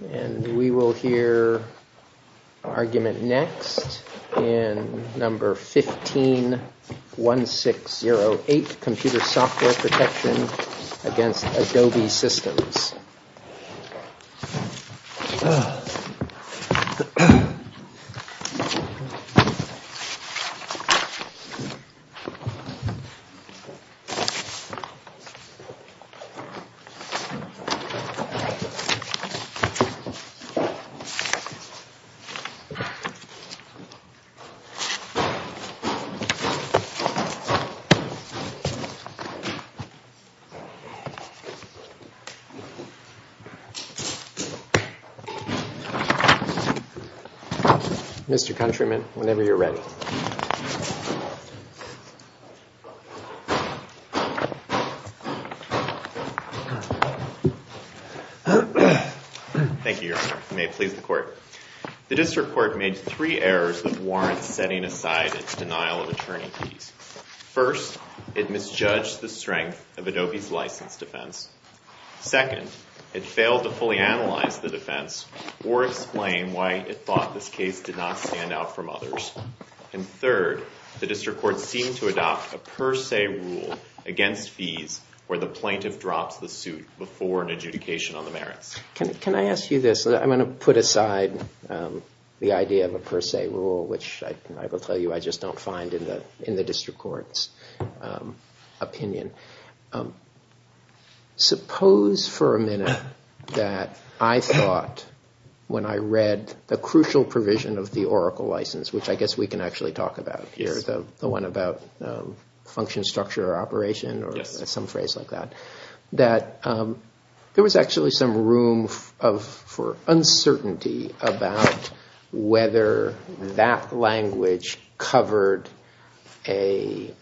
We will hear argument next in number 151608, Computer Software Protection v. Adobe Systems. Mr. Countryman, whenever you're ready. Thank you, Your Honor. May it please the Court. The District Court made three errors with warrants setting aside its denial of attorney fees. First, it misjudged the strength of Adobe's licensed defense. Second, it failed to fully analyze the defense or explain why it thought this case did not stand out from others. And third, the District Court seemed to adopt a per se rule against fees where the plaintiff drops the suit before an adjudication on the merits. Can I ask you this? I'm going to put aside the idea of a per se rule, which I will tell you I just don't find in the District Court's opinion. Suppose for a minute that I thought when I read the crucial provision of the Oracle license, which I guess we can actually talk about here, which is the one about function structure or operation or some phrase like that, that there was actually some room for uncertainty about whether that language covered an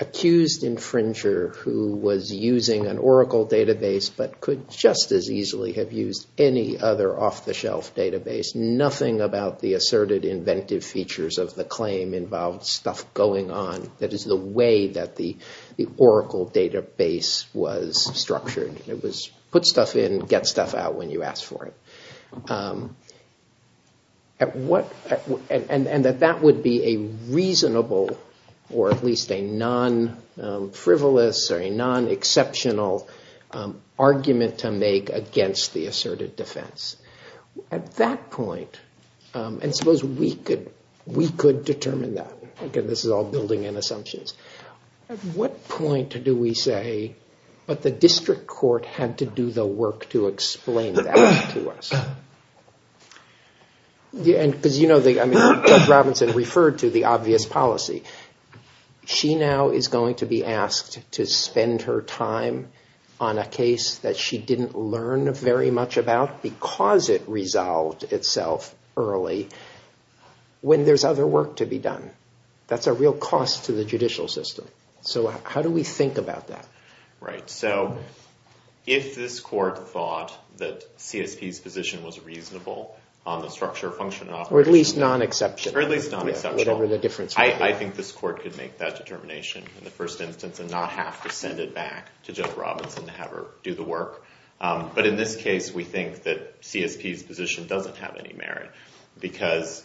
accused infringer who was using an Oracle database, but could just as easily have used any other off-the-shelf database. There's nothing about the asserted inventive features of the claim involved stuff going on that is the way that the Oracle database was structured. It was put stuff in, get stuff out when you ask for it. And that that would be a reasonable or at least a non-frivolous or a non-exceptional argument to make against the asserted defense. At that point, and suppose we could determine that. Again, this is all building in assumptions. At what point do we say that the District Court had to do the work to explain that to us? Because you know, Judge Robinson referred to the obvious policy. She now is going to be asked to spend her time on a case that she didn't learn very much about because it resolved itself early when there's other work to be done. That's a real cost to the judicial system. So how do we think about that? Right. So if this court thought that CSP's position was reasonable on the structure of function and operation. Or at least non-exception. Or at least non-exception. Whatever the difference would be. I think this court could make that determination in the first instance and not have to send it back to Judge Robinson to have her do the work. But in this case, we think that CSP's position doesn't have any merit. Because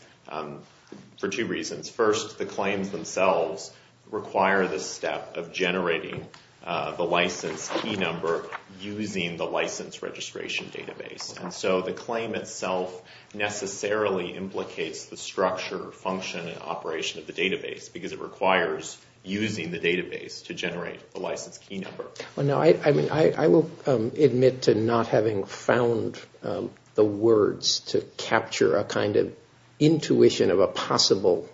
for two reasons. First, the claims themselves require this step of generating the license key number using the license registration database. And so the claim itself necessarily implicates the structure, function, and operation of the database. Because it requires using the database to generate the license key number. I will admit to not having found the words to capture a kind of intuition of a possible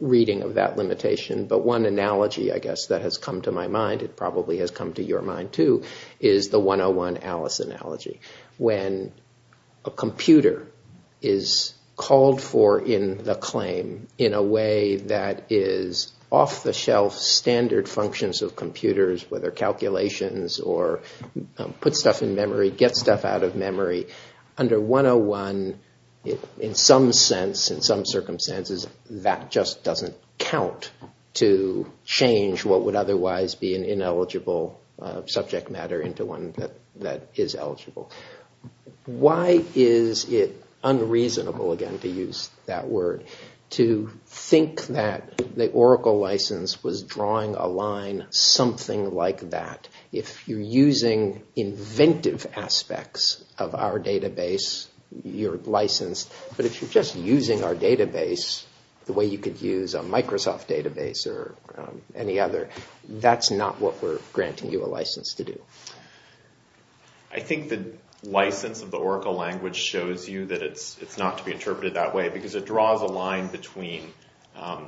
reading of that limitation. But one analogy I guess that has come to my mind, it probably has come to your mind too, is the 101 Alice analogy. When a computer is called for in the claim in a way that is off the shelf standard functions of computers. Whether calculations or put stuff in memory, get stuff out of memory. Under 101, in some sense, in some circumstances, that just doesn't count to change what would otherwise be an ineligible subject matter into one that is eligible. Why is it unreasonable, again to use that word, to think that the Oracle license was drawing a line something like that? If you're using inventive aspects of our database, you're licensed. But if you're just using our database the way you could use a Microsoft database or any other, that's not what we're granting you a license to do. I think the license of the Oracle language shows you that it's not to be interpreted that way because it draws a line between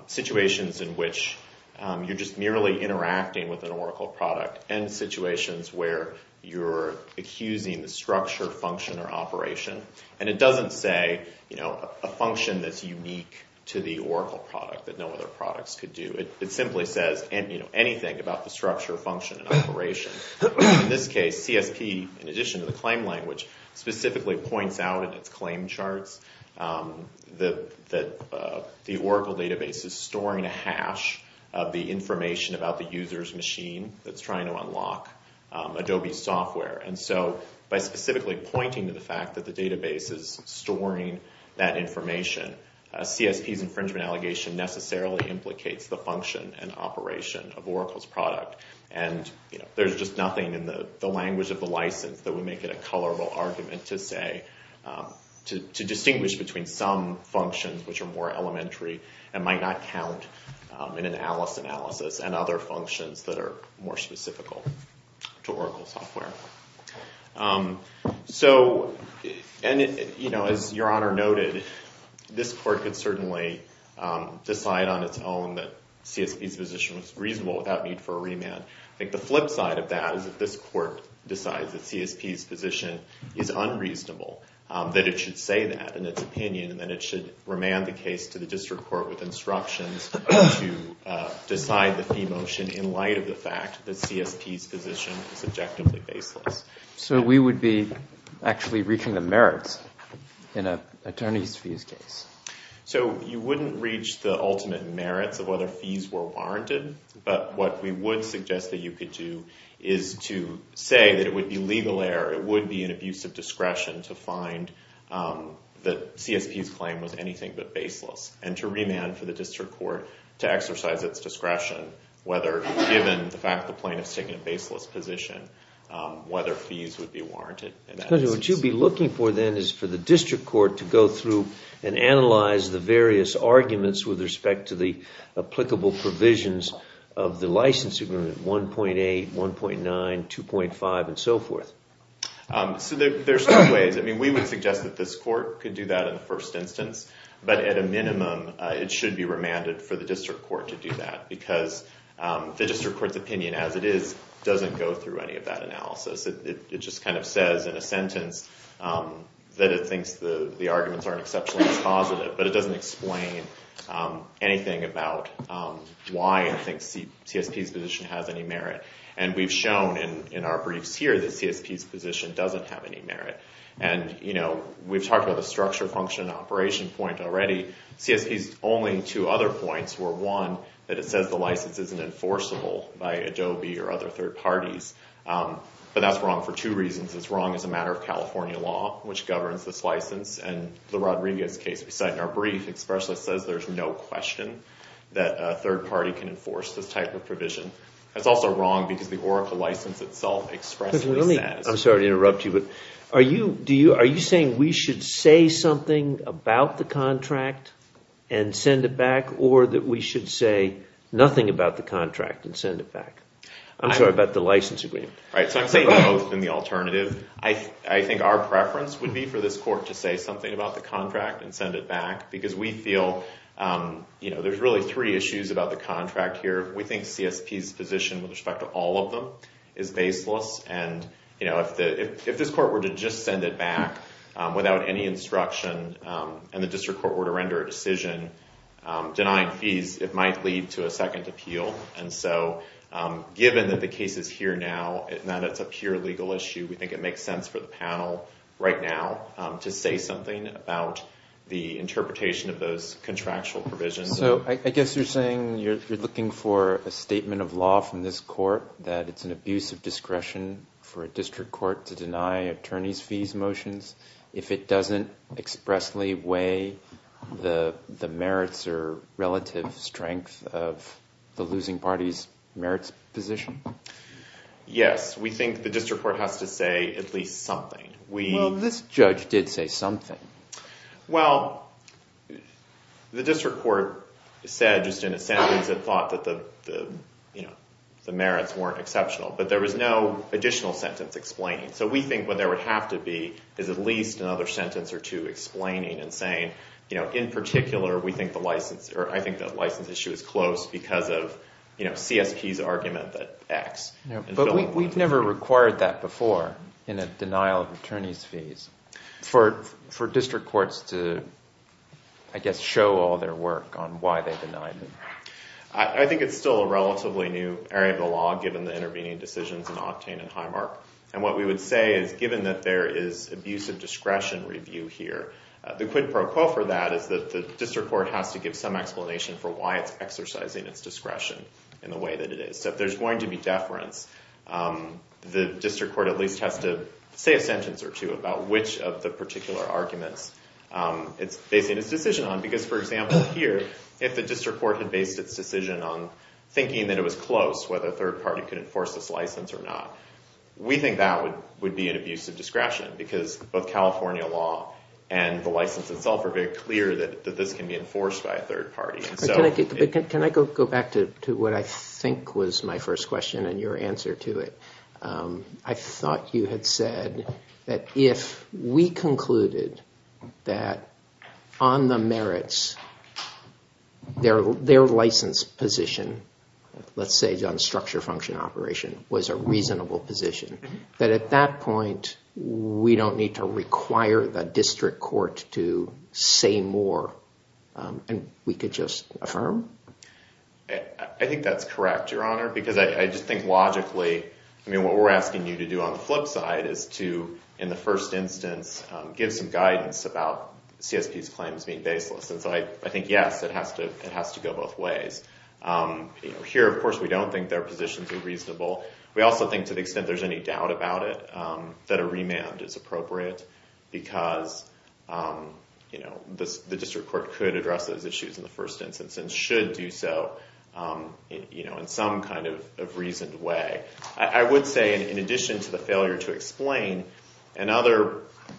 situations in which you're just merely interacting with an Oracle product and situations where you're accusing the structure, function, or operation. And it doesn't say a function that's unique to the Oracle product that no other products could do. It simply says anything about the structure, function, and operation. In this case, CSP, in addition to the claim language, specifically points out in its claim charts that the Oracle database is storing a hash of the information about the user's machine that's trying to unlock Adobe software. And so by specifically pointing to the fact that the database is storing that information, CSP's infringement allegation necessarily implicates the function and operation of Oracle's product. And there's just nothing in the language of the license that would make it a colorable argument to distinguish between some functions which are more elementary and might not count in an Alice analysis and other functions that are more specific to Oracle software. So as Your Honor noted, this court could certainly decide on its own that CSP's position was reasonable without need for a remand. I think the flip side of that is that this court decides that CSP's position is unreasonable, that it should say that in its opinion, and then it should remand the case to the district court with instructions to decide the fee motion in light of the fact that CSP's position is objectively baseless. So we would be actually reaching the merits in an attorney's fees case. So you wouldn't reach the ultimate merits of whether fees were warranted, but what we would suggest that you could do is to say that it would be legal error, it would be an abuse of discretion to find that CSP's claim was anything but baseless, and to remand for the district court to exercise its discretion, whether given the fact the plaintiff's taking a baseless position, whether fees would be warranted. What you'd be looking for then is for the district court to go through and analyze the various arguments with respect to the applicable provisions of the license agreement, 1.8, 1.9, 2.5, and so forth. So there's two ways. I mean, we would suggest that this court could do that in the first instance, but at a minimum, it should be remanded for the district court to do that, because the district court's opinion as it is doesn't go through any of that analysis. It just kind of says in a sentence that it thinks the arguments aren't exceptionally positive, but it doesn't explain anything about why it thinks CSP's position has any merit. And we've shown in our briefs here that CSP's position doesn't have any merit. And we've talked about the structure, function, and operation point already. CSP's only two other points were, one, that it says the license isn't enforceable by Adobe or other third parties, but that's wrong for two reasons. It's wrong as a matter of California law, which governs this license, and the Rodriguez case we cite in our brief expressly says there's no question that a third party can enforce this type of provision. That's also wrong because the Oracle license itself expressly says— I'm sorry to interrupt you, but are you saying we should say something about the contract and send it back, or that we should say nothing about the contract and send it back? I'm sorry, about the license agreement. So I'm saying both and the alternative. I think our preference would be for this court to say something about the contract and send it back, because we feel there's really three issues about the contract here. We think CSP's position with respect to all of them is baseless. And if this court were to just send it back without any instruction and the district court were to render a decision denying fees, it might lead to a second appeal. And so given that the case is here now and that it's a pure legal issue, we think it makes sense for the panel right now to say something about the interpretation of those contractual provisions. So I guess you're saying you're looking for a statement of law from this court that it's an abuse of discretion for a district court to deny attorneys' fees motions if it doesn't expressly weigh the merits or relative strength of the losing party's merits position? Yes. We think the district court has to say at least something. Well, this judge did say something. Well, the district court said just in a sentence it thought that the merits weren't exceptional. But there was no additional sentence explaining. So we think what there would have to be is at least another sentence or two explaining and saying in particular we think the license – or I think the license issue is close because of CSP's argument that X. But we've never required that before in a denial of attorneys' fees. For district courts to, I guess, show all their work on why they denied it. I think it's still a relatively new area of the law given the intervening decisions in Octane and Highmark. And what we would say is given that there is abuse of discretion review here, the quid pro quo for that is that the district court has to give some explanation for why it's exercising its discretion in the way that it is. So if there's going to be deference, the district court at least has to say a sentence or two about which of the particular arguments it's basing its decision on. Because, for example, here if the district court had based its decision on thinking that it was close, whether a third party could enforce this license or not, we think that would be an abuse of discretion. Because both California law and the license itself are very clear that this can be enforced by a third party. Can I go back to what I think was my first question and your answer to it? I thought you had said that if we concluded that on the merits, their license position, let's say on structure function operation, was a reasonable position, that at that point we don't need to require the district court to say more and we could just affirm? I think that's correct, Your Honor, because I just think logically what we're asking you to do on the flip side is to, in the first instance, give some guidance about CSP's claims being baseless. And so I think, yes, it has to go both ways. Here, of course, we don't think their positions are reasonable. We also think to the extent there's any doubt about it, that a remand is appropriate because the district court could address those issues in the first instance and should do so in some kind of reasoned way. I would say, in addition to the failure to explain, another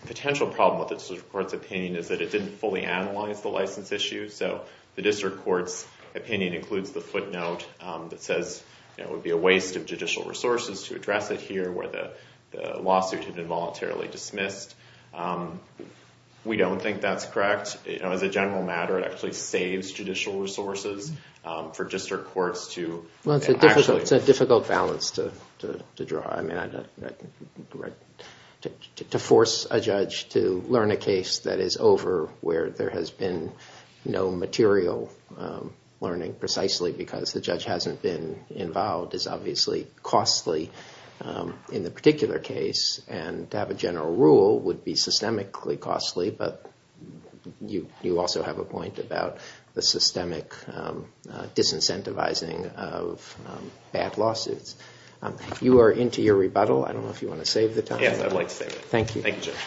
potential problem with the district court's opinion is that it didn't fully analyze the license issue. So the district court's opinion includes the footnote that says it would be a waste of judicial resources to address it here where the lawsuit had been voluntarily dismissed. We don't think that's correct. As a general matter, it actually saves judicial resources for district courts to actually… learning precisely because the judge hasn't been involved is obviously costly in the particular case. And to have a general rule would be systemically costly, but you also have a point about the systemic disincentivizing of bad lawsuits. You are into your rebuttal. I don't know if you want to save the time. Yes, I'd like to save it. Thank you. Thank you, Judge.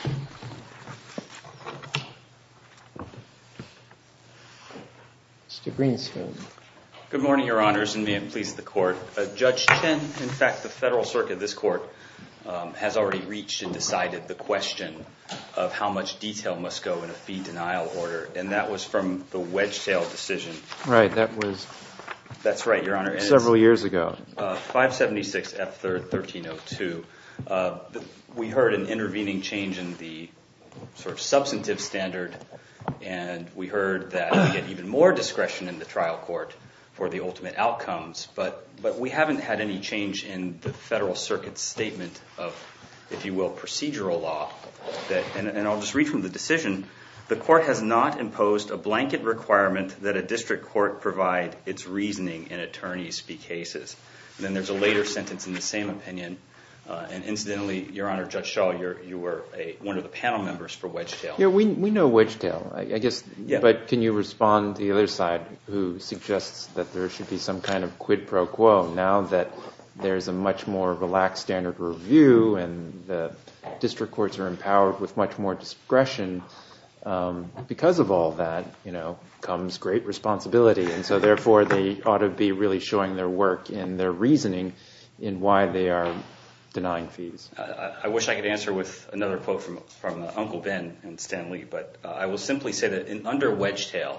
Mr. Greensfield. Good morning, Your Honors, and may it please the Court. Judge Chin, in fact, the Federal Circuit, this Court, has already reached and decided the question of how much detail must go in a fee denial order, and that was from the Wedgetail decision. Right, that was… That's right, Your Honor. …several years ago. 576F1302. We heard an intervening change in the sort of substantive standard, and we heard that we get even more discretion in the trial court for the ultimate outcomes, but we haven't had any change in the Federal Circuit's statement of, if you will, procedural law. And I'll just read from the decision. The Court has not imposed a blanket requirement that a district court provide its reasoning in attorney's fee cases. And then there's a later sentence in the same opinion. And incidentally, Your Honor, Judge Shaw, you were one of the panel members for Wedgetail. Yeah, we know Wedgetail. I guess… Yeah. …but can you respond to the other side, who suggests that there should be some kind of quid pro quo now that there's a much more relaxed standard review and the district courts are empowered with much more discretion? Because of all that, you know, comes great responsibility. And so therefore, they ought to be really showing their work and their reasoning in why they are denying fees. I wish I could answer with another quote from Uncle Ben and Stan Lee, but I will simply say that under Wedgetail,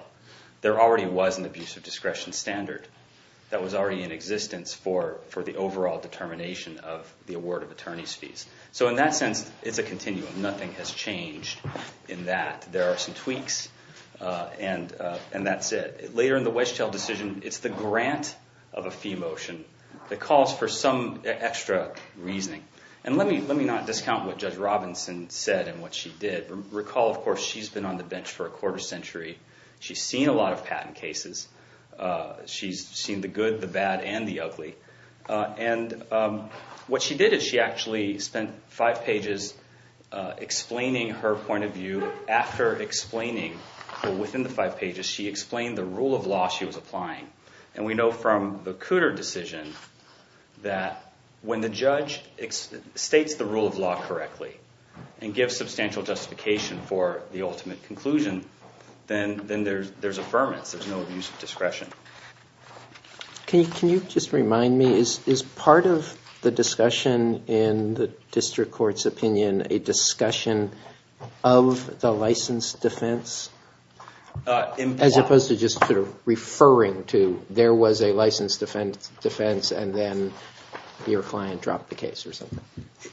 there already was an abuse of discretion standard that was already in existence for the overall determination of the award of attorney's fees. So in that sense, it's a continuum. Nothing has changed in that. There are some tweaks, and that's it. Later in the Wedgetail decision, it's the grant of a fee motion that calls for some extra reasoning. And let me not discount what Judge Robinson said and what she did. Recall, of course, she's been on the bench for a quarter century. She's seen a lot of patent cases. She's seen the good, the bad, and the ugly. And what she did is she actually spent five pages explaining her point of view. After explaining within the five pages, she explained the rule of law she was applying. And we know from the Cooter decision that when the judge states the rule of law correctly and gives substantial justification for the ultimate conclusion, then there's affirmance. There's no abuse of discretion. Can you just remind me, is part of the discussion in the district court's opinion a discussion of the license defense? As opposed to just sort of referring to there was a license defense, and then your client dropped the case or something.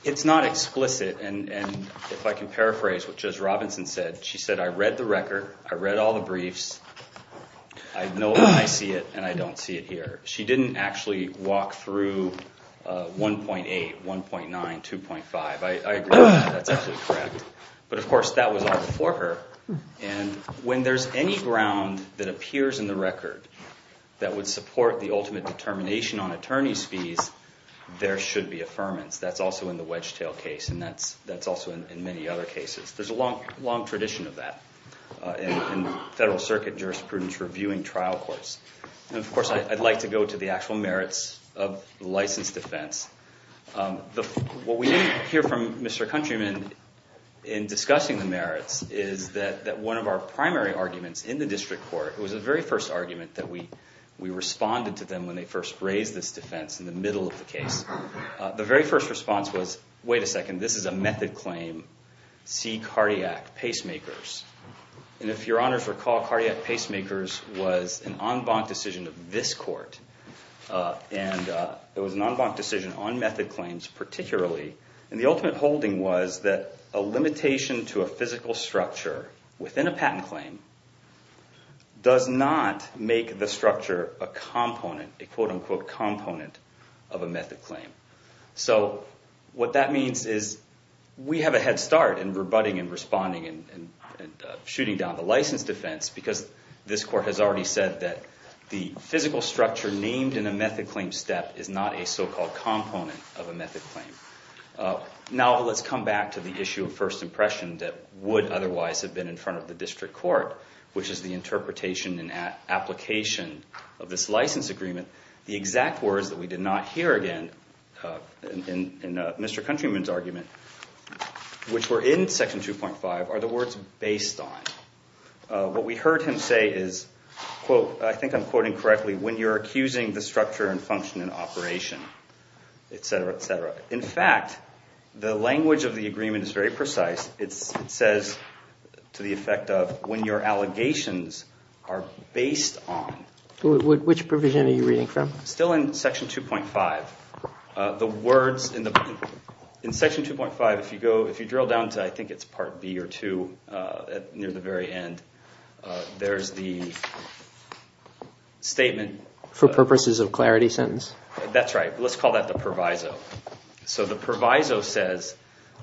It's not explicit. And if I can paraphrase what Judge Robinson said, she said, I read the record. I read all the briefs. I know when I see it, and I don't see it here. She didn't actually walk through 1.8, 1.9, 2.5. I agree with that. That's absolutely correct. But, of course, that was all before her. And when there's any ground that appears in the record that would support the ultimate determination on attorney's fees, there should be affirmance. That's also in the Wedgetail case, and that's also in many other cases. There's a long tradition of that in federal circuit jurisprudence reviewing trial courts. And, of course, I'd like to go to the actual merits of license defense. What we didn't hear from Mr. Countryman in discussing the merits is that one of our primary arguments in the district court, it was the very first argument that we responded to them when they first raised this defense in the middle of the case. The very first response was, wait a second, this is a method claim. See cardiac pacemakers. And if your honors recall, cardiac pacemakers was an en banc decision of this court. And it was an en banc decision on method claims particularly. And the ultimate holding was that a limitation to a physical structure within a patent claim does not make the structure a component, a quote unquote component of a method claim. So what that means is we have a head start in rebutting and responding and shooting down the license defense because this court has already said that the physical structure named in a method claim step is not a so-called component of a method claim. Now let's come back to the issue of first impression that would otherwise have been in front of the district court, which is the interpretation and application of this license agreement. The exact words that we did not hear again in Mr. Countryman's argument, which were in section 2.5, are the words based on. What we heard him say is, quote, I think I'm quoting correctly, when you're accusing the structure and function and operation, et cetera, et cetera. In fact, the language of the agreement is very precise. It says to the effect of when your allegations are based on. Which provision are you reading from? Still in section 2.5. In section 2.5, if you drill down to I think it's part B or two near the very end, there's the statement. For purposes of clarity sentence. That's right. Let's call that the proviso. So the proviso says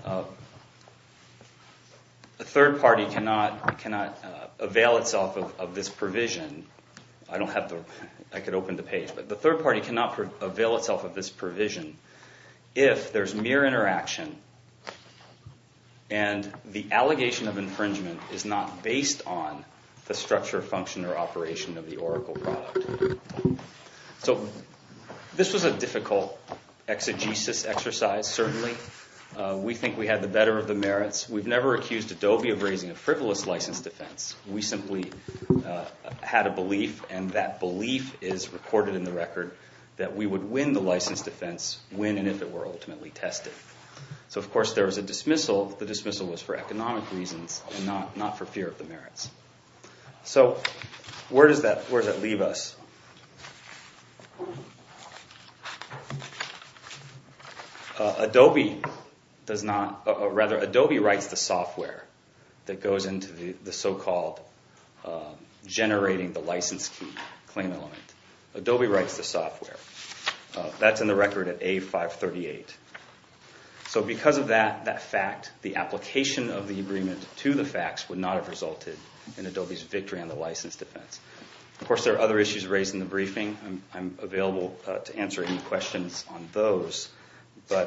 a third party cannot avail itself of this provision. I could open the page, but the third party cannot avail itself of this provision if there's mere interaction. And the allegation of infringement is not based on the structure, function, or operation of the Oracle product. So this was a difficult exegesis exercise, certainly. We think we had the better of the merits. We've never accused Adobe of raising a frivolous license defense. We simply had a belief and that belief is recorded in the record that we would win the license defense when and if it were ultimately tested. So of course there was a dismissal. The dismissal was for economic reasons and not for fear of the merits. So where does that leave us? Adobe writes the software that goes into the so-called generating the license key claim element. Adobe writes the software. That's in the record at A538. So because of that fact, the application of the agreement to the facts would not have resulted in Adobe's victory on the license defense. Of course there are other issues raised in the briefing. I'm available to answer any questions on those.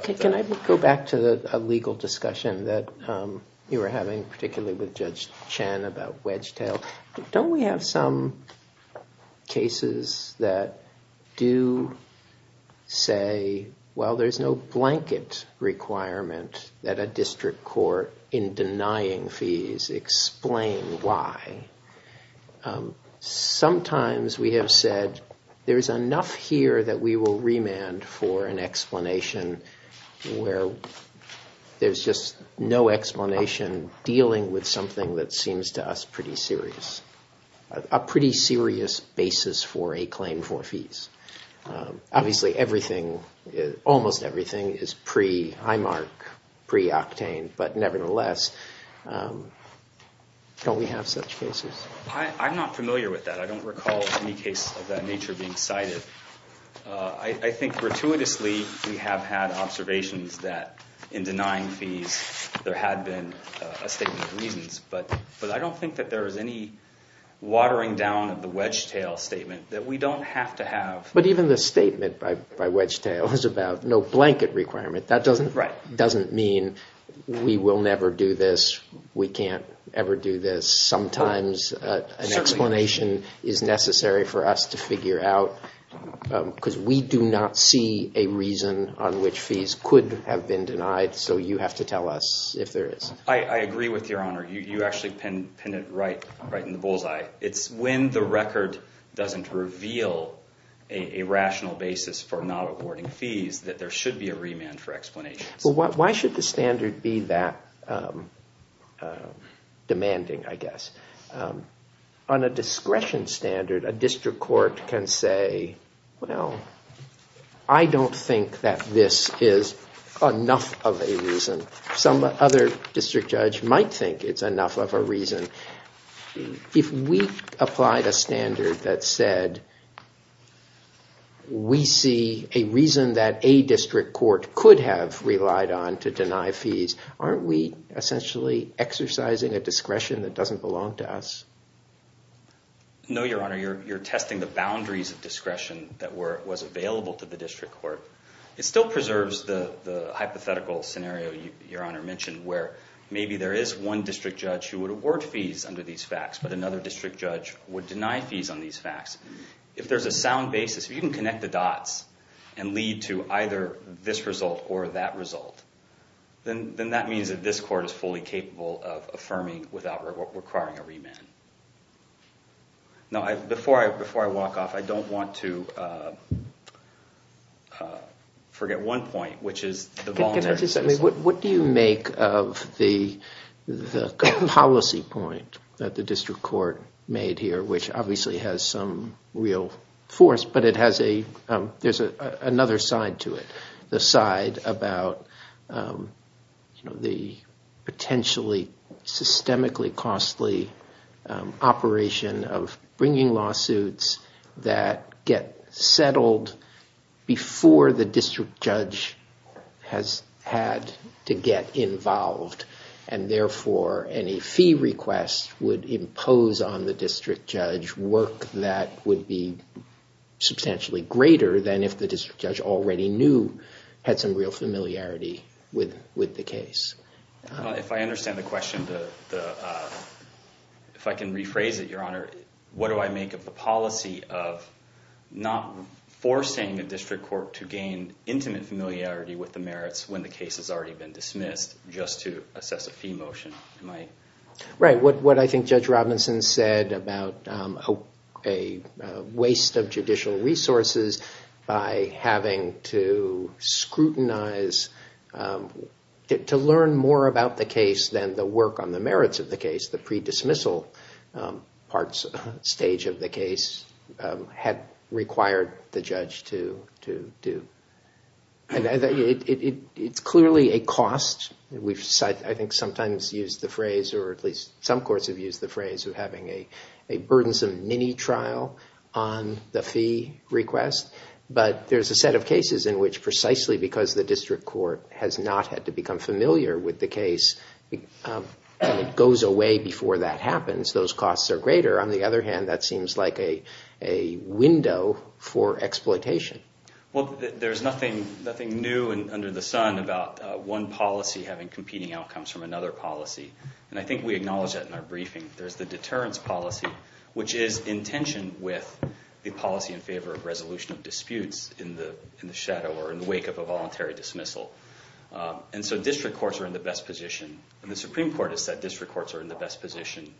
Can I go back to a legal discussion that you were having particularly with Judge Chen about Wedgetail? Don't we have some cases that do say, well, there's no blanket requirement that a district court in denying fees explain why. Sometimes we have said there is enough here that we will remand for an explanation where there's just no explanation dealing with something that seems to us pretty serious. A pretty serious basis for a claim for fees. Obviously almost everything is pre-IMARC, pre-octane. But nevertheless, don't we have such cases? I'm not familiar with that. I don't recall any case of that nature being cited. I think gratuitously we have had observations that in denying fees there had been a statement of reasons. But I don't think that there is any watering down of the Wedgetail statement that we don't have to have. But even the statement by Wedgetail is about no blanket requirement. That doesn't mean we will never do this. We can't ever do this. Sometimes an explanation is necessary for us to figure out because we do not see a reason on which fees could have been denied. So you have to tell us if there is. I agree with Your Honor. You actually pin it right in the bullseye. It's when the record doesn't reveal a rational basis for not awarding fees that there should be a remand for explanation. Why should the standard be that demanding, I guess? On a discretion standard, a district court can say, well, I don't think that this is enough of a reason. Some other district judge might think it's enough of a reason. If we applied a standard that said we see a reason that a district court could have relied on to deny fees, aren't we essentially exercising a discretion that doesn't belong to us? No, Your Honor. You're testing the boundaries of discretion that was available to the district court. It still preserves the hypothetical scenario Your Honor mentioned where maybe there is one district judge who would award fees under these facts, but another district judge would deny fees on these facts. If there's a sound basis, if you can connect the dots and lead to either this result or that result, then that means that this court is fully capable of affirming without requiring a remand. Before I walk off, I don't want to forget one point, which is the voluntary... What do you make of the policy point that the district court made here, which obviously has some real force, but there's another side to it. The side about the potentially systemically costly operation of bringing lawsuits that get settled before the district judge has had to get involved, and therefore any fee request would impose on the district judge work that would be substantially greater than if the district judge already knew, had some real familiarity with the case. If I understand the question, if I can rephrase it Your Honor, what do I make of the policy of not forcing a district court to gain intimate familiarity with the merits when the case has already been dismissed just to assess a fee motion? What I think Judge Robinson said about a waste of judicial resources by having to scrutinize, to learn more about the case than the work on the merits of the case, the pre-dismissal stage of the case had required the judge to do. It's clearly a cost. We've sometimes used the phrase, or at least some courts have used the phrase, of having a burdensome mini-trial on the fee request, but there's a set of cases in which precisely because the district court has not had to become familiar with the case, it goes away before that happens. Those costs are greater. On the other hand, that seems like a window for exploitation. Well, there's nothing new under the sun about one policy having competing outcomes from another policy, and I think we acknowledge that in our briefing. There's the deterrence policy, which is in tension with the policy in favor of resolution of disputes in the shadow or in the wake of a voluntary dismissal, and so district courts are in the best position, and the Supreme Court has said district courts are in the best position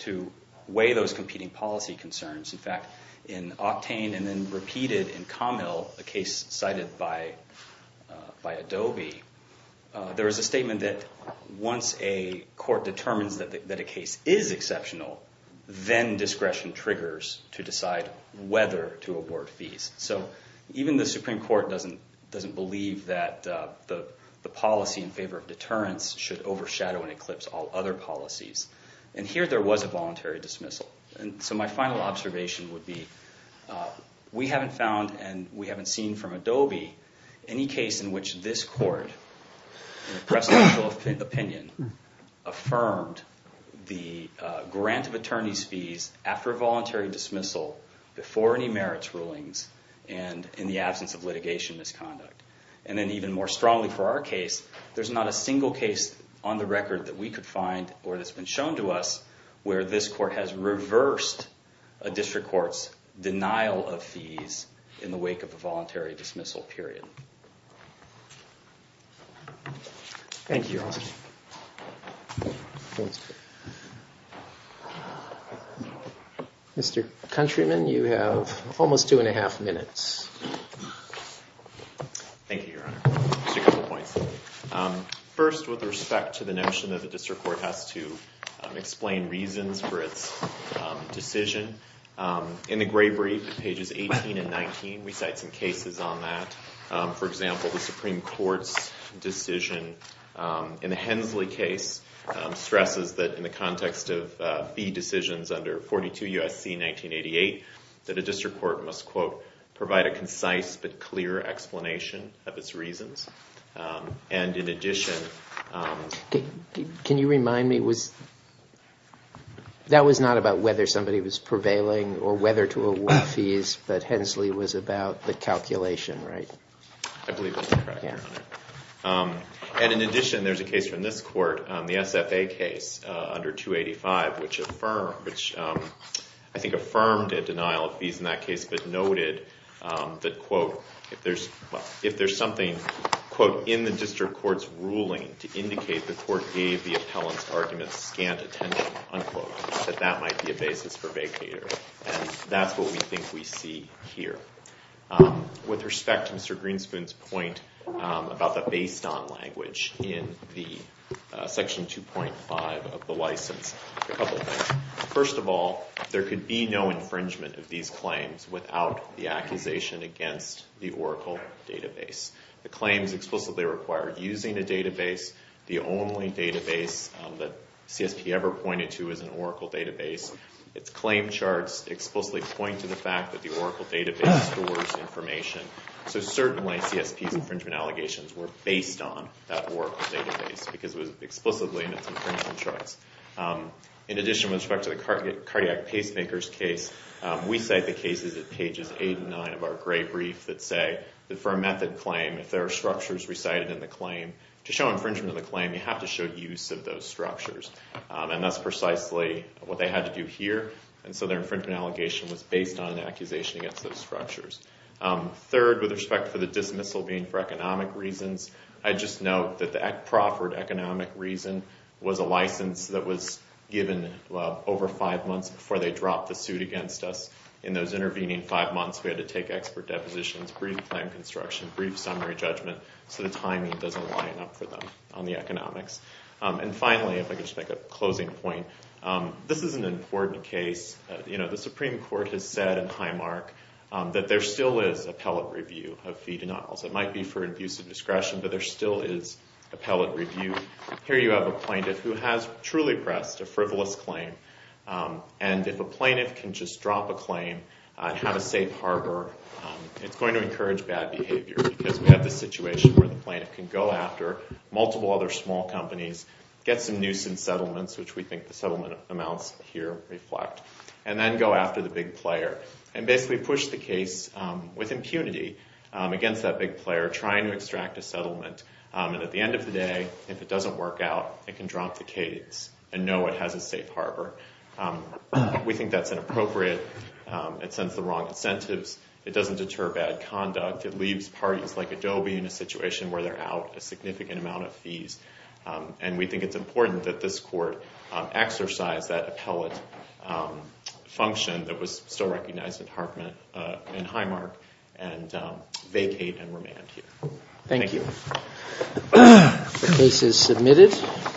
to weigh those competing policy concerns. In fact, in Octane and then repeated in Conville, a case cited by Adobe, there is a statement that once a court determines that a case is exceptional, then discretion triggers to decide whether to award fees. So even the Supreme Court doesn't believe that the policy in favor of deterrence should overshadow and eclipse all other policies, and here there was a voluntary dismissal. So my final observation would be we haven't found and we haven't seen from Adobe any case in which this court, in a presidential opinion, affirmed the grant of attorney's fees after a voluntary dismissal, before any merits rulings, and in the absence of litigation misconduct. And then even more strongly for our case, there's not a single case on the record that we could find or that's been shown to us where this court has reversed a district court's denial of fees in the wake of a voluntary dismissal period. Thank you, Your Honor. Mr. Countryman, you have almost two and a half minutes. Thank you, Your Honor. Just a couple points. First, with respect to the notion that the district court has to explain reasons for its decision, in the Gray Brief, pages 18 and 19, we cite some cases on that. For example, the Supreme Court's decision in the Hensley case stresses that in the context of fee decisions under 42 U.S.C. 1988, that a district court must, quote, provide a concise but clear explanation of its reasons. And in addition... Can you remind me, that was not about whether somebody was prevailing or whether to award fees, but Hensley was about the calculation, right? I believe that's correct, Your Honor. And in addition, there's a case from this court, the SFA case under 285, which I think affirmed a denial of fees in that case, but noted that, quote, if there's something, quote, in the district court's ruling to indicate the court gave the appellant's argument scant attention, unquote, that that might be a basis for vacater. And that's what we think we see here. With respect to Mr. Greenspoon's point about the based-on language in the Section 2.5 of the license, a couple things. First of all, there could be no infringement of these claims without the accusation against the Oracle database. The claims explicitly require using a database, the only database that CSP ever pointed to as an Oracle database. Its claim charts explicitly point to the fact that the Oracle database stores information. So certainly CSP's infringement allegations were based on that Oracle database, because it was explicitly in its infringement charts. In addition, with respect to the cardiac pacemakers case, we cite the cases at pages 8 and 9 of our gray brief that say that for a method claim, if there are structures recited in the claim, to show infringement of the claim, you have to show use of those structures. And that's precisely what they had to do here. And so their infringement allegation was based on an accusation against those structures. Third, with respect to the dismissal being for economic reasons, I just note that the Crawford economic reason was a license that was given over five months before they dropped the suit against us. In those intervening five months, we had to take expert depositions, brief time construction, brief summary judgment, so the timing doesn't line up for them on the economics. And finally, if I could just make a closing point, this is an important case. The Supreme Court has said in Highmark that there still is appellate review of fee denials. It might be for abuse of discretion, but there still is appellate review. Here you have a plaintiff who has truly pressed a frivolous claim, and if a plaintiff can just drop a claim and have a safe harbor, it's going to encourage bad behavior, because we have this situation where the plaintiff can go after multiple other small companies, get some nuisance settlements, which we think the settlement amounts here reflect, and then go after the big player and basically push the case with impunity against that big player, trying to extract a settlement. And at the end of the day, if it doesn't work out, it can drop the case and know it has a safe harbor. We think that's inappropriate. It sends the wrong incentives. It doesn't deter bad conduct. It leaves parties like Adobe in a situation where they're out a significant amount of fees. And we think it's important that this court exercise that appellate function that was still recognized in Highmark and vacate and remand here. Thank you. The case is submitted.